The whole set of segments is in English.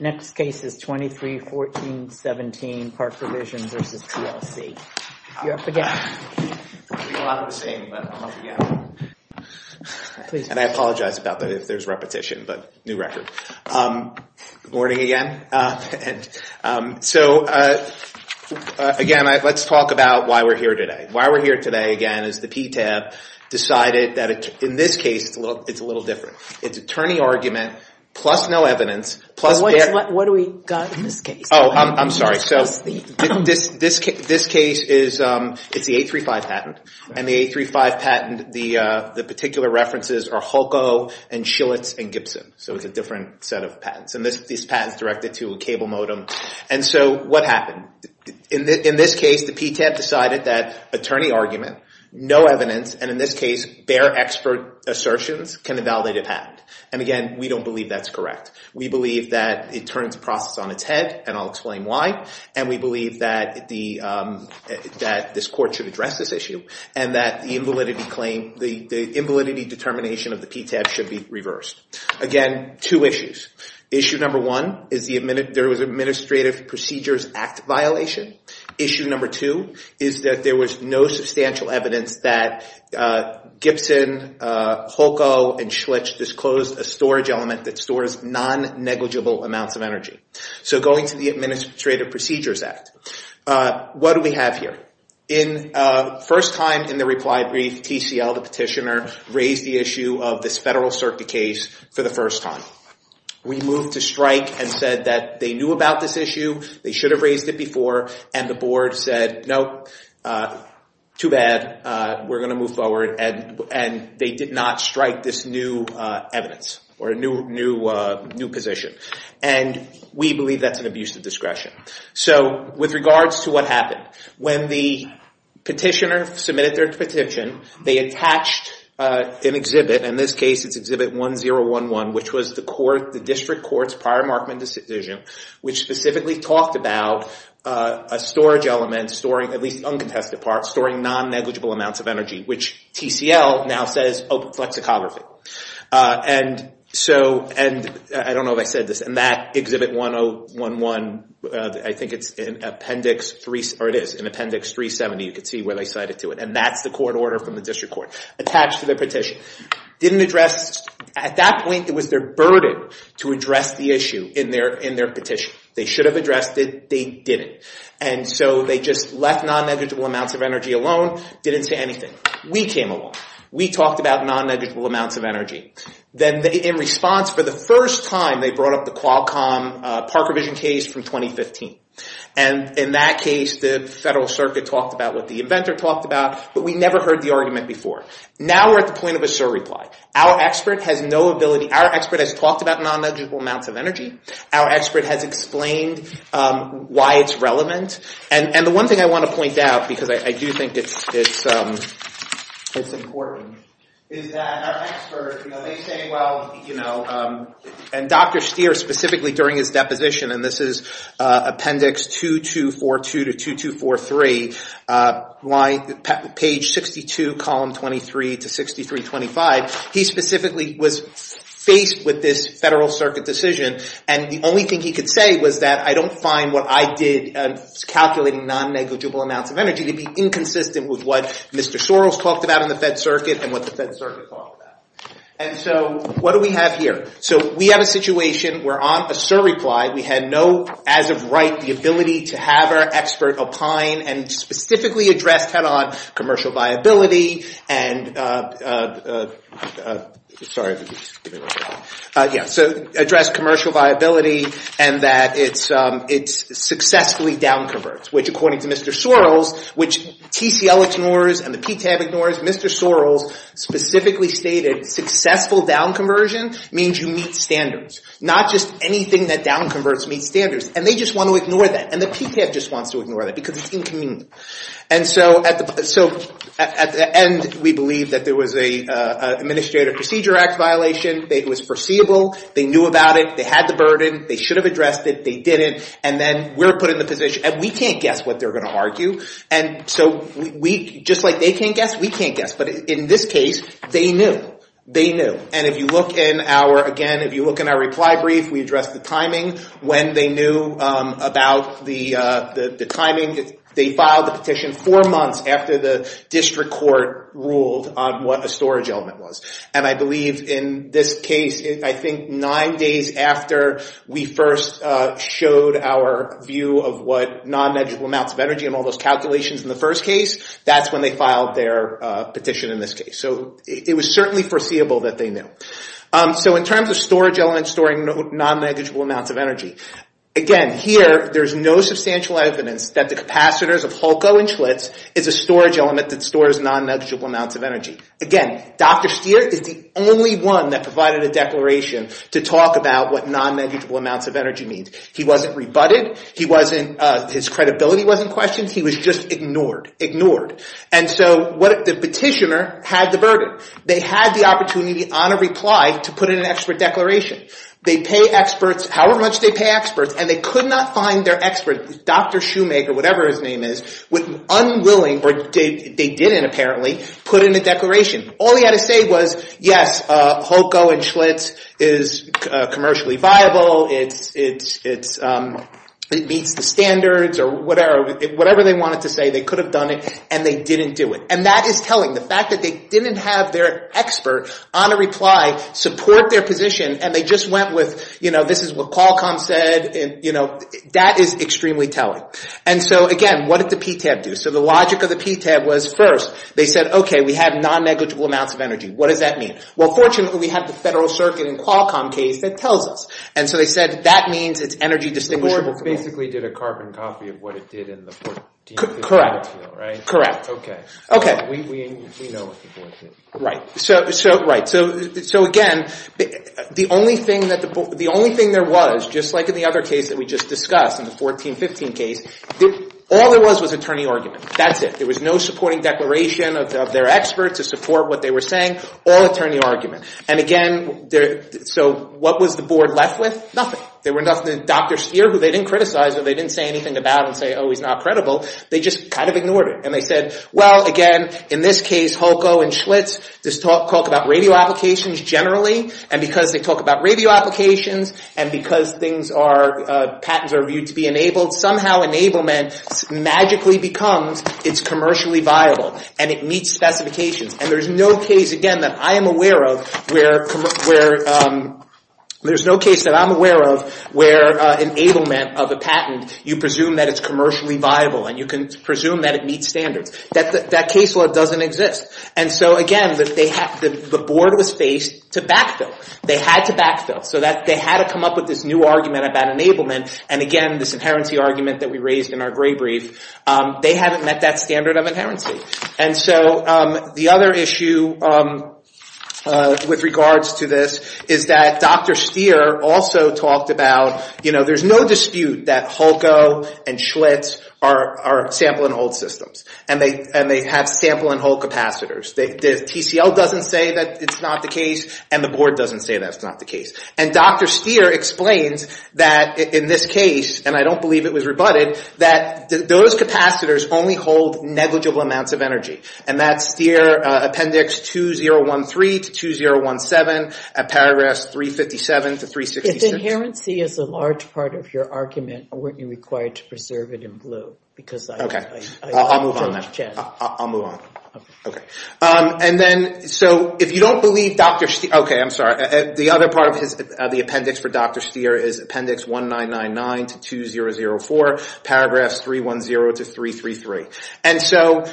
Next case is 23-14-17, ParksVision v. TLC. You're up again. And I apologize about that if there's repetition, but new record. Good morning again. So again, let's talk about why we're here today. Why we're here today, again, is the PTAB decided that in this case, it's a little different. It's attorney argument plus no evidence, What do we got in this case? Oh, I'm sorry. So this case, it's the 835 patent. And the 835 patent, the particular references are Hulco and Schillitz and Gibson. So it's a different set of patents. And this patent's directed to a cable modem. And so what happened? In this case, the PTAB decided that attorney argument, no evidence, and in this case, bare expert assertions can invalidate a patent. And again, we don't believe that's correct. We believe that it turns the process on its head, and I'll explain why. And we believe that this court should address this issue and that the invalidity claim, the invalidity determination of the PTAB should be reversed. Again, two issues. Issue number one is there was administrative procedures act violation. Issue number two is that there was no substantial evidence that Gibson, Hulco, and Schillitz disclosed a storage element that stores non-negligible amounts of energy. So going to the Administrative Procedures Act, what do we have here? In first time in the reply brief, TCL, the petitioner, raised the issue of this federal circuit case for the first time. We moved to strike and said that they knew about this issue. They should have raised it before. And the board said, nope, too bad. We're going to move forward. And they did not strike this new evidence or a new position. And we believe that's an abuse of discretion. So with regards to what happened, when the petitioner submitted their petition, they attached an exhibit. In this case, it's exhibit 1011, which was the district court's prior Markman decision, which specifically talked about a storage element storing, at least uncontested parts, storing non-negligible amounts of energy, which TCL now says open flexicography. And so, and I don't know if I said this, and that exhibit 1011, I think it's in appendix 370. You can see where they cited to it. And that's the court order from the district court attached to the petition. Didn't address, at that point, it was their burden to address the issue in their petition. They should have addressed it. They didn't. And so they just left non-negligible amounts of energy alone. Didn't say anything. We came along. We talked about non-negligible amounts of energy. Then, in response, for the first time, they brought up the Qualcomm Parker Vision case from 2015. And in that case, the Federal Circuit talked about what the inventor talked about. But we never heard the argument before. Now, we're at the point of a surreply. Our expert has no ability. Our expert has talked about non-negligible amounts of energy. Our expert has explained why it's relevant. And the one thing I want to point out, because I do think it's important, is that our expert, they say, well, you know, and Dr. Steer, specifically during his deposition, and this is appendix 2242 to 2243, page 62, column 23 to 6325, he specifically was faced with this Federal Circuit decision. And the only thing he could say was that I don't find what I did calculating non-negligible amounts of energy to be inconsistent with what Mr. Soros talked about in the Fed Circuit and what the Fed Circuit talked about. And so what do we have here? So we have a situation where, on a surreply, we had no, as of right, the ability to have our expert opine and specifically address head-on commercial viability and, sorry. Yeah, so address commercial viability and that it successfully down-converts, which, according to Mr. Soros, which TCL ignores and the PTAB ignores, Mr. Soros specifically stated successful down-conversion means you meet standards. Not just anything that down-converts meets standards. And they just want to ignore that. And the PTAB just wants to ignore that because it's inconvenient. And so at the end, we believe that there was an Administrative Procedure Act violation. It was foreseeable. They knew about it. They had the burden. They should have addressed it. They didn't. And then we're put in the position. And we can't guess what they're going to argue. And so just like they can't guess, we can't guess. But in this case, they knew. They knew. And if you look in our, again, if you look in our reply brief, we address the timing, when they knew about the timing. They filed the petition four months after the district court ruled on what a storage element was. And I believe in this case, I think nine days after we first showed our view of what non-negligible amounts of energy and all those calculations in the first case, that's when they filed their petition in this case. So it was certainly foreseeable that they knew. So in terms of storage elements storing non-negligible amounts of energy, again, here, there's no substantial evidence that the capacitors of HULCO and Schlitz is a storage element that stores non-negligible amounts of energy. Again, Dr. Steer is the only one that to talk about what non-negligible amounts of energy means. He wasn't rebutted. His credibility wasn't questioned. He was just ignored. Ignored. And so the petitioner had the burden. They had the opportunity on a reply to put in an expert declaration. They pay experts, however much they pay experts, and they could not find their expert, Dr. Shoemaker, whatever his name is, unwilling, or they didn't apparently, put in a declaration. All he had to say was, yes, HULCO and Schlitz is commercially viable, it meets the standards, or whatever they wanted to say. They could have done it, and they didn't do it. And that is telling. The fact that they didn't have their expert on a reply support their position, and they just went with, this is what Qualcomm said, that is extremely telling. And so again, what did the PTAB do? So the logic of the PTAB was first, they said, OK, we have non-negligible amounts of energy. What does that mean? Well, fortunately, we have the Federal Circuit in Qualcomm case that tells us. And so they said, that means it's energy distinguishable. The board basically did a carbon copy of what it did in the 1415 case, right? Correct. Correct. OK. OK. We know what the board did. Right. So again, the only thing there was, just like in the other case that we just discussed, in the 1415 case, all there was was attorney argument. That's it. There was no supporting declaration of their experts to support what they were saying. All attorney argument. And again, so what was the board left with? Nothing. There were nothing. Dr. Speer, who they didn't criticize, or they didn't say anything about and say, oh, he's not credible. They just kind of ignored it. And they said, well, again, in this case, Holko and Schlitz just talk about radio applications generally. And because they talk about radio applications, and because patents are viewed to be enabled, somehow enablement magically becomes it's commercially viable. And it meets specifications. And there's no case, again, that I am aware of where enablement of a patent, you presume that it's commercially viable. And you can presume that it meets standards. That case law doesn't exist. And so again, the board was faced to backfill. They had to backfill. So they had to come up with this new argument about enablement. And again, this inherency argument that we raised in our gray brief, they haven't met that standard of inherency. And so the other issue with regards to this is that Dr. Stier also talked about there's no dispute that Holko and Schlitz are sample and hold systems. And they have sample and hold capacitors. TCL doesn't say that it's not the case. And the board doesn't say that's not the case. And Dr. Stier explains that in this case, and I don't believe it was rebutted, that those capacitors only hold negligible amounts of energy. And that's Stier Appendix 2013 to 2017, at paragraph 357 to 366. If inherency is a large part of your argument, weren't you required to preserve it in blue? Because I don't judge it. I'll move on then. I'll move on. And then, so if you don't believe Dr. Stier, OK, I'm sorry. The other part of the appendix for Dr. Stier is Appendix 1999 to 2004, paragraphs 310 to 333. And so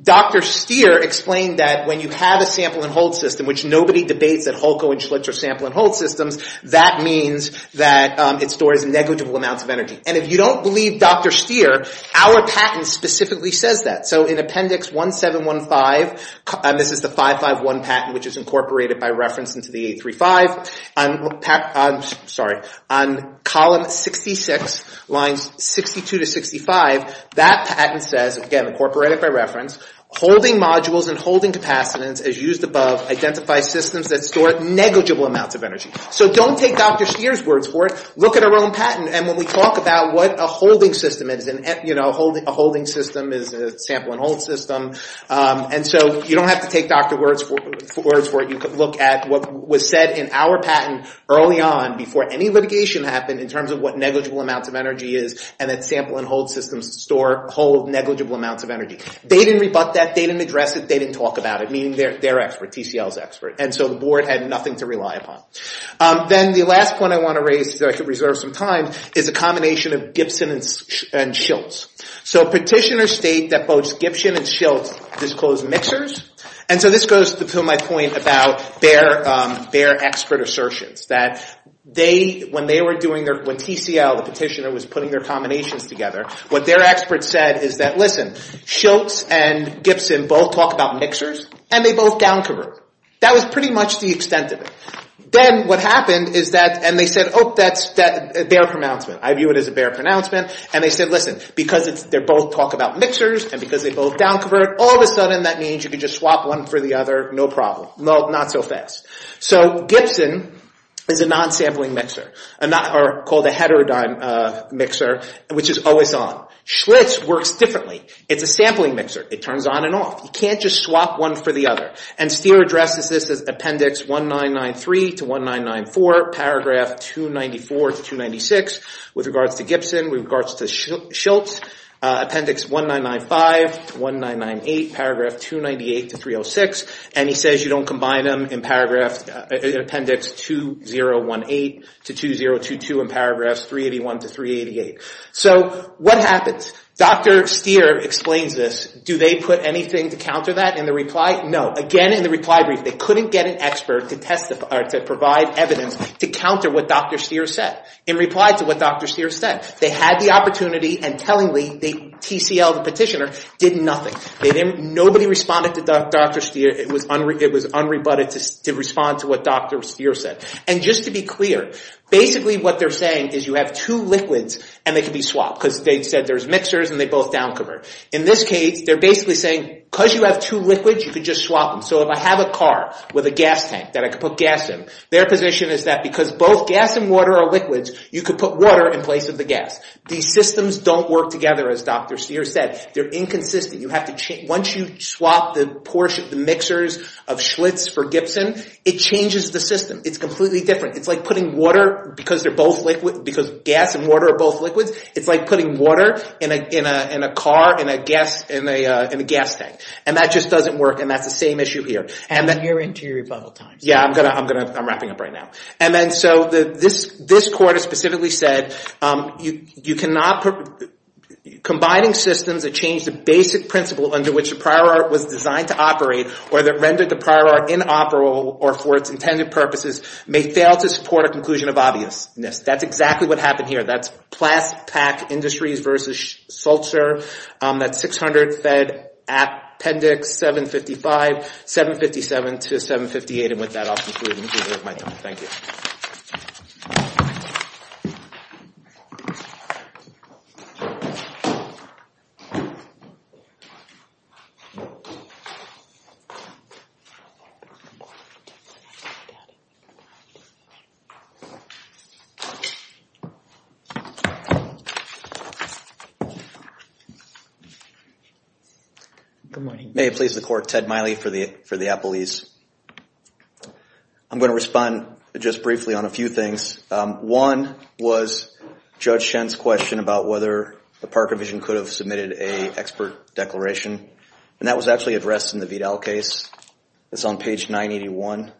Dr. Stier explained that when you have a sample and hold system, which nobody debates that Holko and Schlitz are sample and hold systems, that means that it stores negligible amounts of energy. And if you don't believe Dr. Stier, our patent specifically says that. So in Appendix 1715, and this is the 551 patent, which is incorporated by reference into the 835, on column 66, lines 62 to 65, that patent says, again, incorporated by reference, holding modules and holding capacitance as used above identify systems that store negligible amounts of energy. So don't take Dr. Stier's words for it. Look at our own patent. And when we talk about what a holding system is, and a holding system is a sample and hold system. And so you don't have to take Dr. Word's words for it. You could look at what was said in our patent early on before any litigation happened, in terms of what negligible amounts of energy is, and that sample and hold systems hold negligible amounts of energy. They didn't rebut that. They didn't address it. They didn't talk about it, meaning their expert, TCL's expert. And so the board had nothing to rely upon. Then the last point I want to raise, so I can reserve some time, is a combination of Gibson and Schiltz. So petitioners state that both Gibson and Schiltz disclose mixers. And so this goes to my point about their expert assertions, that when TCL, the petitioner, was putting their combinations together, what their experts said is that, listen, Schiltz and Gibson both talk about mixers, and they both down-convert. That was pretty much the extent of it. Then what happened is that, and they said, oh, that's a bare pronouncement. I view it as a bare pronouncement. And they said, listen, because they both talk about mixers and because they both down-convert, all of a sudden that means you can just swap one for the other, no problem. Not so fast. So Gibson is a non-sampling mixer, called a heterodyne mixer, which is always on. Schiltz works differently. It's a sampling mixer. It turns on and off. You can't just swap one for the other. And Steere addresses this as appendix 1993 to 1994, paragraph 294 to 296, with regards to Gibson, with regards to Schiltz, appendix 1995 to 1998, paragraph 298 to 306. And he says you don't combine them in appendix 2018 to 2022 in paragraphs 381 to 388. So what happens? Dr. Steere explains this. Do they put anything to counter that in the reply? No. Again, in the reply brief, they couldn't get an expert to provide evidence to counter what Dr. Steere said, in reply to what Dr. Steere said. They had the opportunity, and tellingly, the TCL, the petitioner, did nothing. Nobody responded to Dr. Steere. It was unrebutted to respond to what Dr. Steere said. And just to be clear, basically what they're saying is you have two liquids, and they can be swapped. Because they said there's mixers, and they both down convert. In this case, they're basically saying, because you have two liquids, you can just swap them. So if I have a car with a gas tank that I can put gas in, their position is that because both gas and water are liquids, you could put water in place of the gas. These systems don't work together, as Dr. Steere said. They're inconsistent. Once you swap the mixers of Schlitz for Gibson, it changes the system. It's completely different. It's like putting water, because gas and water are both liquids, it's like putting water in a car in a gas tank. And that just doesn't work, and that's the same issue here. And your interior bubble time. Yeah, I'm wrapping up right now. And then so this court has specifically said, combining systems that change the basic principle under which the prior art was designed to operate, or that rendered the prior art inoperable, or for its intended purposes, may fail to support a conclusion of obviousness. That's exactly what happened here. That's Plast-Pak Industries versus Schultzer. That's 600 Fed Appendix 755, 757 to 758. And with that, I'll conclude. Thank you. Good morning. May it please the court, Ted Miley for the appellees. I'm going to respond just briefly on a few things. One was Judge Schen's question about whether the Park Division could have submitted a expert declaration. And that was actually addressed in the Vidal case. It's on page 981.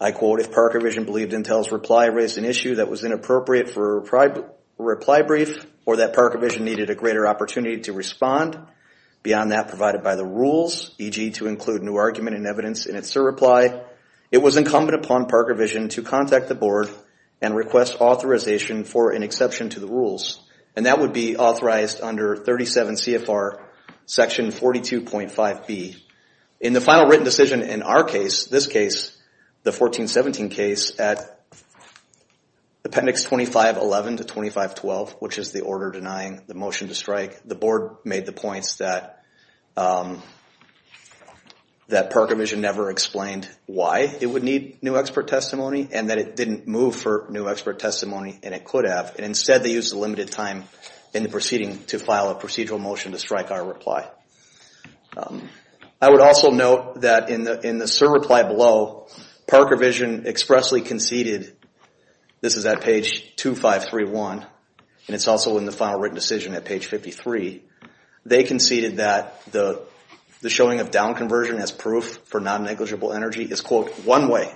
I quote, if Park Division believed Intel's reply raised an issue that was inappropriate for a reply brief, or that Park Division needed a greater opportunity to respond, beyond that provided by the rules, e.g. to include new argument and evidence in its reply, it was incumbent upon Park Division to contact the board and request authorization for an exception to the rules. And that would be authorized under 37 CFR section 42.5B. In the final written decision in our case, this case, the 1417 case, at Appendix 2511 to 2512, which is the order denying the motion to strike, the board made the points that Park Division never explained why it would need new expert testimony, and that it didn't move for new expert testimony, and it could have. And instead they used the limited time in the proceeding to file a procedural motion to strike our reply. I would also note that in the SIR reply below, Park Division expressly conceded, this is at page 2531, and it's also in the final written decision at page 53, they conceded that the showing of down conversion as proof for non-negligible energy is, quote, one way.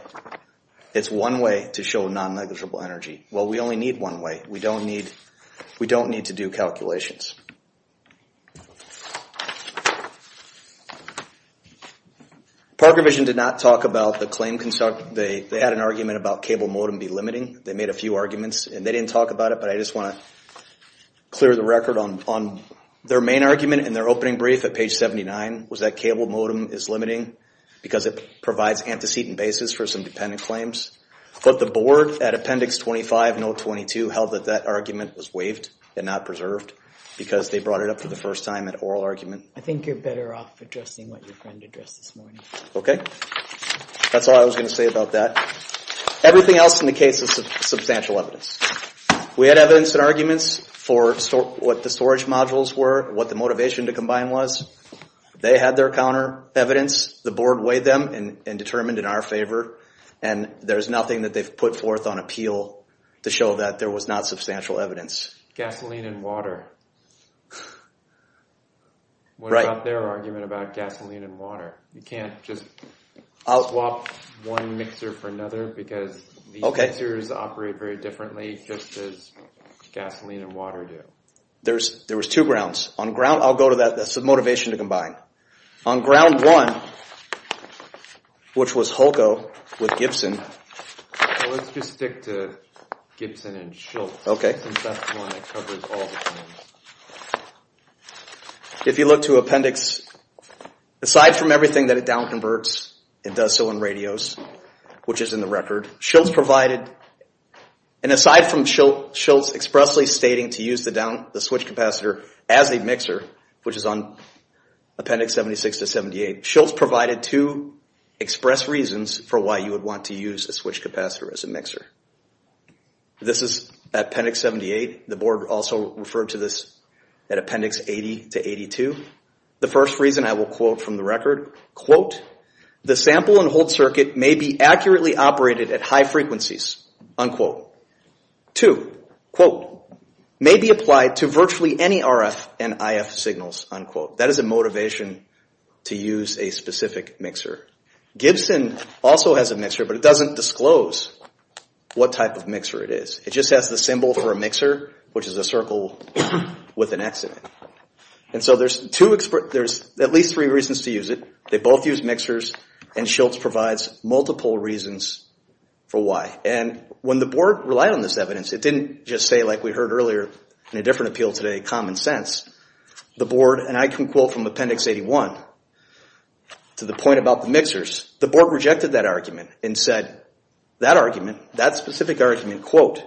It's one way to show non-negligible energy. Well, we only need one way. We don't need to do calculations. Park Division did not talk about the claim construct. They had an argument about cable modem be limiting. They made a few arguments, and they didn't talk about it, but I just want to clear the record on their main argument in their opening brief at page 79 was that cable modem is limiting because it provides antecedent basis for some dependent claims. But the board at appendix 25 and 022 held that that argument was waived and not preserved because they brought it up for the first time at oral argument. I think you're better off addressing what your friend addressed this morning. Okay. That's all I was going to say about that. Everything else in the case is substantial evidence. We had evidence and arguments for what the storage modules were, what the motivation to combine was. They had their counter evidence. The board weighed them and determined in our favor, and there's nothing that they've put forth on appeal to show that there was not substantial evidence. Gasoline and water. What about their argument about gasoline and water? You can't just swap one mixer for another because these mixers operate very differently just as gasoline and water do. There was two grounds. I'll go to that. That's the motivation to combine. On ground one, which was Holko with Gibson. Let's just stick to Gibson and Schultz since that's the one that covers all the claims. If you look to appendix, aside from everything that it down converts, it does so in radios, which is in the record. Schultz provided, and aside from Schultz expressly stating to use the switch capacitor as a mixer, which is on appendix 76 to 78, Schultz provided two express reasons for why you would want to use a switch capacitor as a mixer. This is appendix 78. The board also referred to this at appendix 80 to 82. The first reason I will quote from the record, quote, the sample and hold circuit may be accurately operated at high frequencies, unquote. Two, quote, may be applied to virtually any RF and IF signals, unquote. That is a motivation to use a specific mixer. Gibson also has a mixer, but it doesn't disclose what type of mixer it is. It just has the symbol for a mixer, which is a circle with an X in it. And so there's at least three reasons to use it. They both use mixers, and Schultz provides multiple reasons for why. And when the board relied on this evidence, it didn't just say, like we heard earlier in a different appeal today, common sense. The board, and I can quote from appendix 81 to the point about the mixers, the board rejected that argument and said, that argument, that specific argument, quote,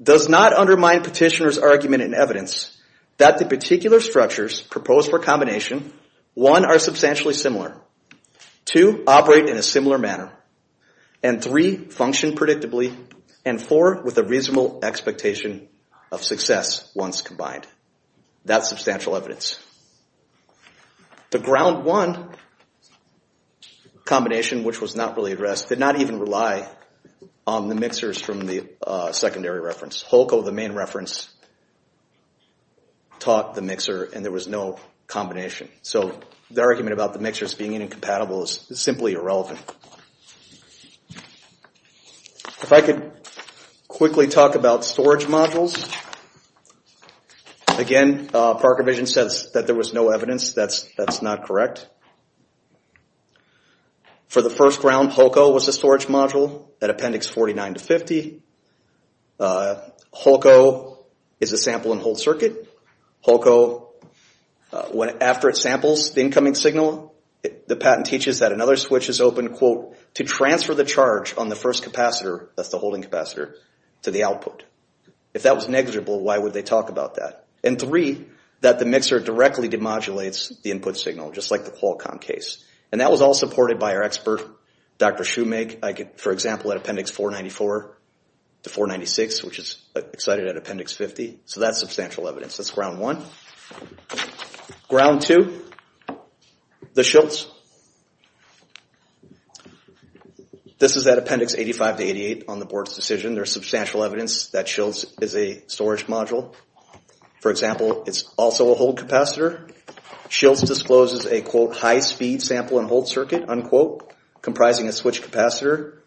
does not undermine petitioner's argument in evidence that the particular structures proposed for combination, one, are substantially similar, two, operate in a similar manner, and three, function predictably, and four, with a reasonable expectation of success once combined. That's substantial evidence. The ground one combination, which was not really addressed, did not even rely on the mixers from the secondary reference. Holko, the main reference, taught the mixer and there was no combination. So the argument about the mixers being incompatible is simply irrelevant. If I could quickly talk about storage modules. Again, Parker Vision says that there was no evidence. That's not correct. For the first round, Holko was the storage module at appendix 49 to 50. Holko is a sample and hold circuit. Holko, after it samples the incoming signal, the patent teaches that another switch is open, quote, to transfer the charge on the first capacitor, that's the holding capacitor, to the output. If that was negligible, why would they talk about that? And three, that the mixer directly demodulates the input signal, just like the Qualcomm case. And that was all supported by our expert, Dr. Shoemake. For example, at appendix 494 to 496, which is excited at appendix 50. So that's substantial evidence. That's ground one. Ground two, the Schiltz. This is at appendix 85 to 88 on the board's decision. There's substantial evidence that Schiltz is a storage module. For example, it's also a hold capacitor. Schiltz discloses a, quote, high-speed sample and hold circuit, unquote, comprising a switch capacitor.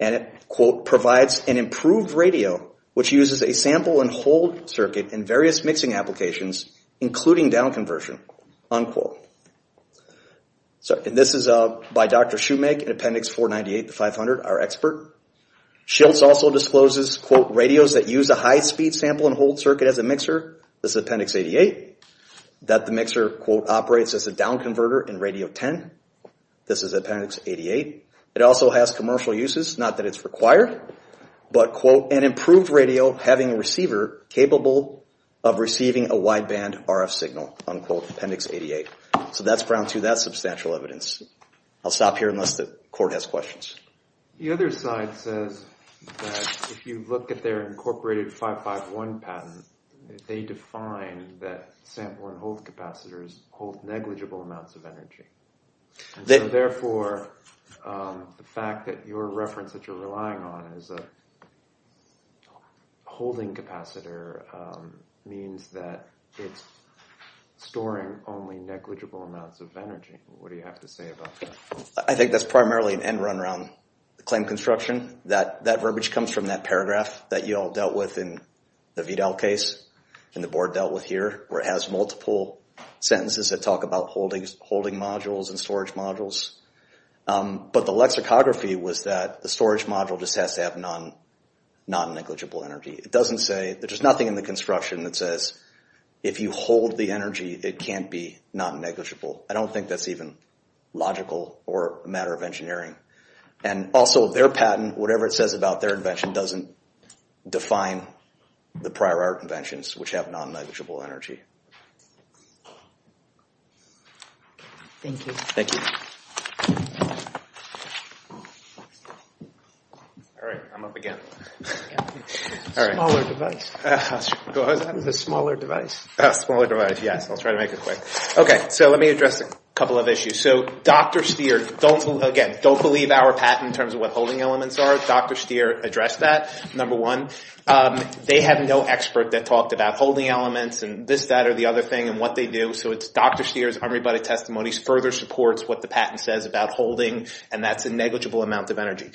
And it, quote, provides an improved radio, which uses a sample and hold circuit in various mixing applications, including down conversion, unquote. And this is by Dr. Shoemake in appendix 498 to 500, our expert. Schiltz also discloses, quote, radios that use a high-speed sample and hold circuit as a mixer. This is appendix 88. That the mixer, quote, operates as a down converter in radio 10. This is appendix 88. It also has commercial uses, not that it's required, but, quote, an improved radio having a receiver capable of receiving a wideband RF signal, unquote, appendix 88. So that's ground two. That's substantial evidence. I'll stop here unless the court has questions. The other side says that if you look at their incorporated 551 patent, they define that sample and hold capacitors hold negligible amounts of energy. And so, therefore, the fact that your reference that you're relying on is a holding capacitor means that it's storing only negligible amounts of energy. What do you have to say about that? I think that's primarily an end run around the claim construction. That verbiage comes from that paragraph that you all dealt with in the VDAL case and the board dealt with here, where it has multiple sentences that talk about holding modules and storage modules. But the lexicography was that the storage module just has to have non-negligible energy. It doesn't say, there's nothing in the construction that says if you hold the energy, it can't be non-negligible. I don't think that's even logical or a matter of engineering. And also, their patent, whatever it says about their invention, doesn't define the prior art inventions, which have non-negligible energy. Thank you. Thank you. All right, I'm up again. Smaller device. What was that? The smaller device. Smaller device, yes. I'll try to make it quick. Okay, so let me address a couple of issues. So Dr. Stier, again, don't believe our patent in terms of what holding elements are. Dr. Stier addressed that, number one. They have no expert that talked about holding elements and this, that, or the other thing and what they do. So it's Dr. Stier's unrebutted testimony further supports what the patent says about holding, and that's a negligible amount of energy.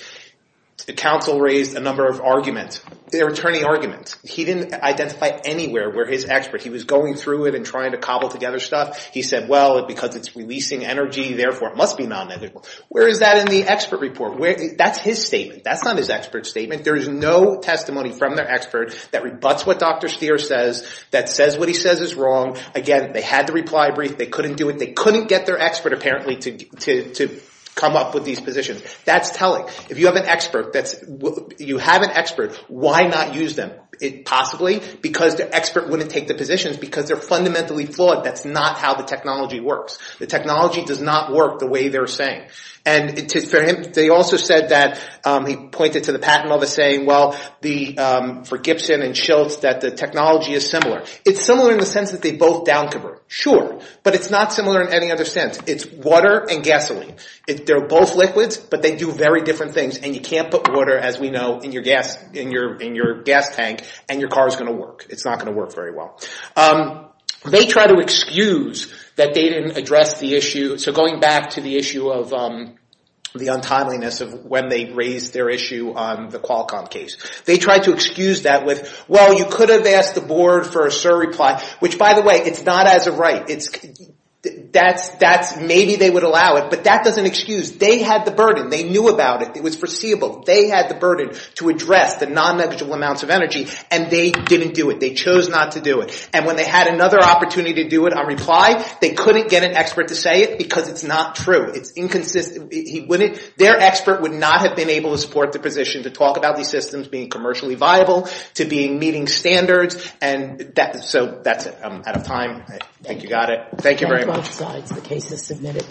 The counsel raised a number of arguments, their attorney arguments. He didn't identify anywhere where his expert. He was going through it and trying to cobble together stuff. He said, well, because it's releasing energy, therefore, it must be non-negligible. Where is that in the expert report? That's his statement. That's not his expert statement. There is no testimony from their expert that rebuts what Dr. Stier says, that says what he says is wrong. Again, they had the reply brief. They couldn't do it. They couldn't get their expert apparently to come up with these positions. That's telling. If you have an expert, you have an expert, why not use them? Possibly because the expert wouldn't take the positions because they're fundamentally flawed. That's not how the technology works. The technology does not work the way they're saying. They also said that he pointed to the patent office saying, well, for Gibson and Schiltz, that the technology is similar. It's similar in the sense that they both down convert. Sure, but it's not similar in any other sense. It's water and gasoline. They're both liquids, but they do very different things, and you can't put water, as we know, in your gas tank, and your car is going to work. It's not going to work very well. They try to excuse that they didn't address the issue. So going back to the issue of the untimeliness of when they raised their issue on the Qualcomm case. They tried to excuse that with, well, you could have asked the board for a surreply, which, by the way, it's not as a right. Maybe they would allow it, but that doesn't excuse. They had the burden. They knew about it. It was foreseeable. They had the burden to address the non-negligible amounts of energy, and they didn't do it. They chose not to do it. And when they had another opportunity to do it on reply, they couldn't get an expert to say it because it's not true. It's inconsistent. Their expert would not have been able to support the position to talk about these systems being commercially viable, to meeting standards. So that's it. I'm out of time. I think you got it. Thank you very much. Thank you.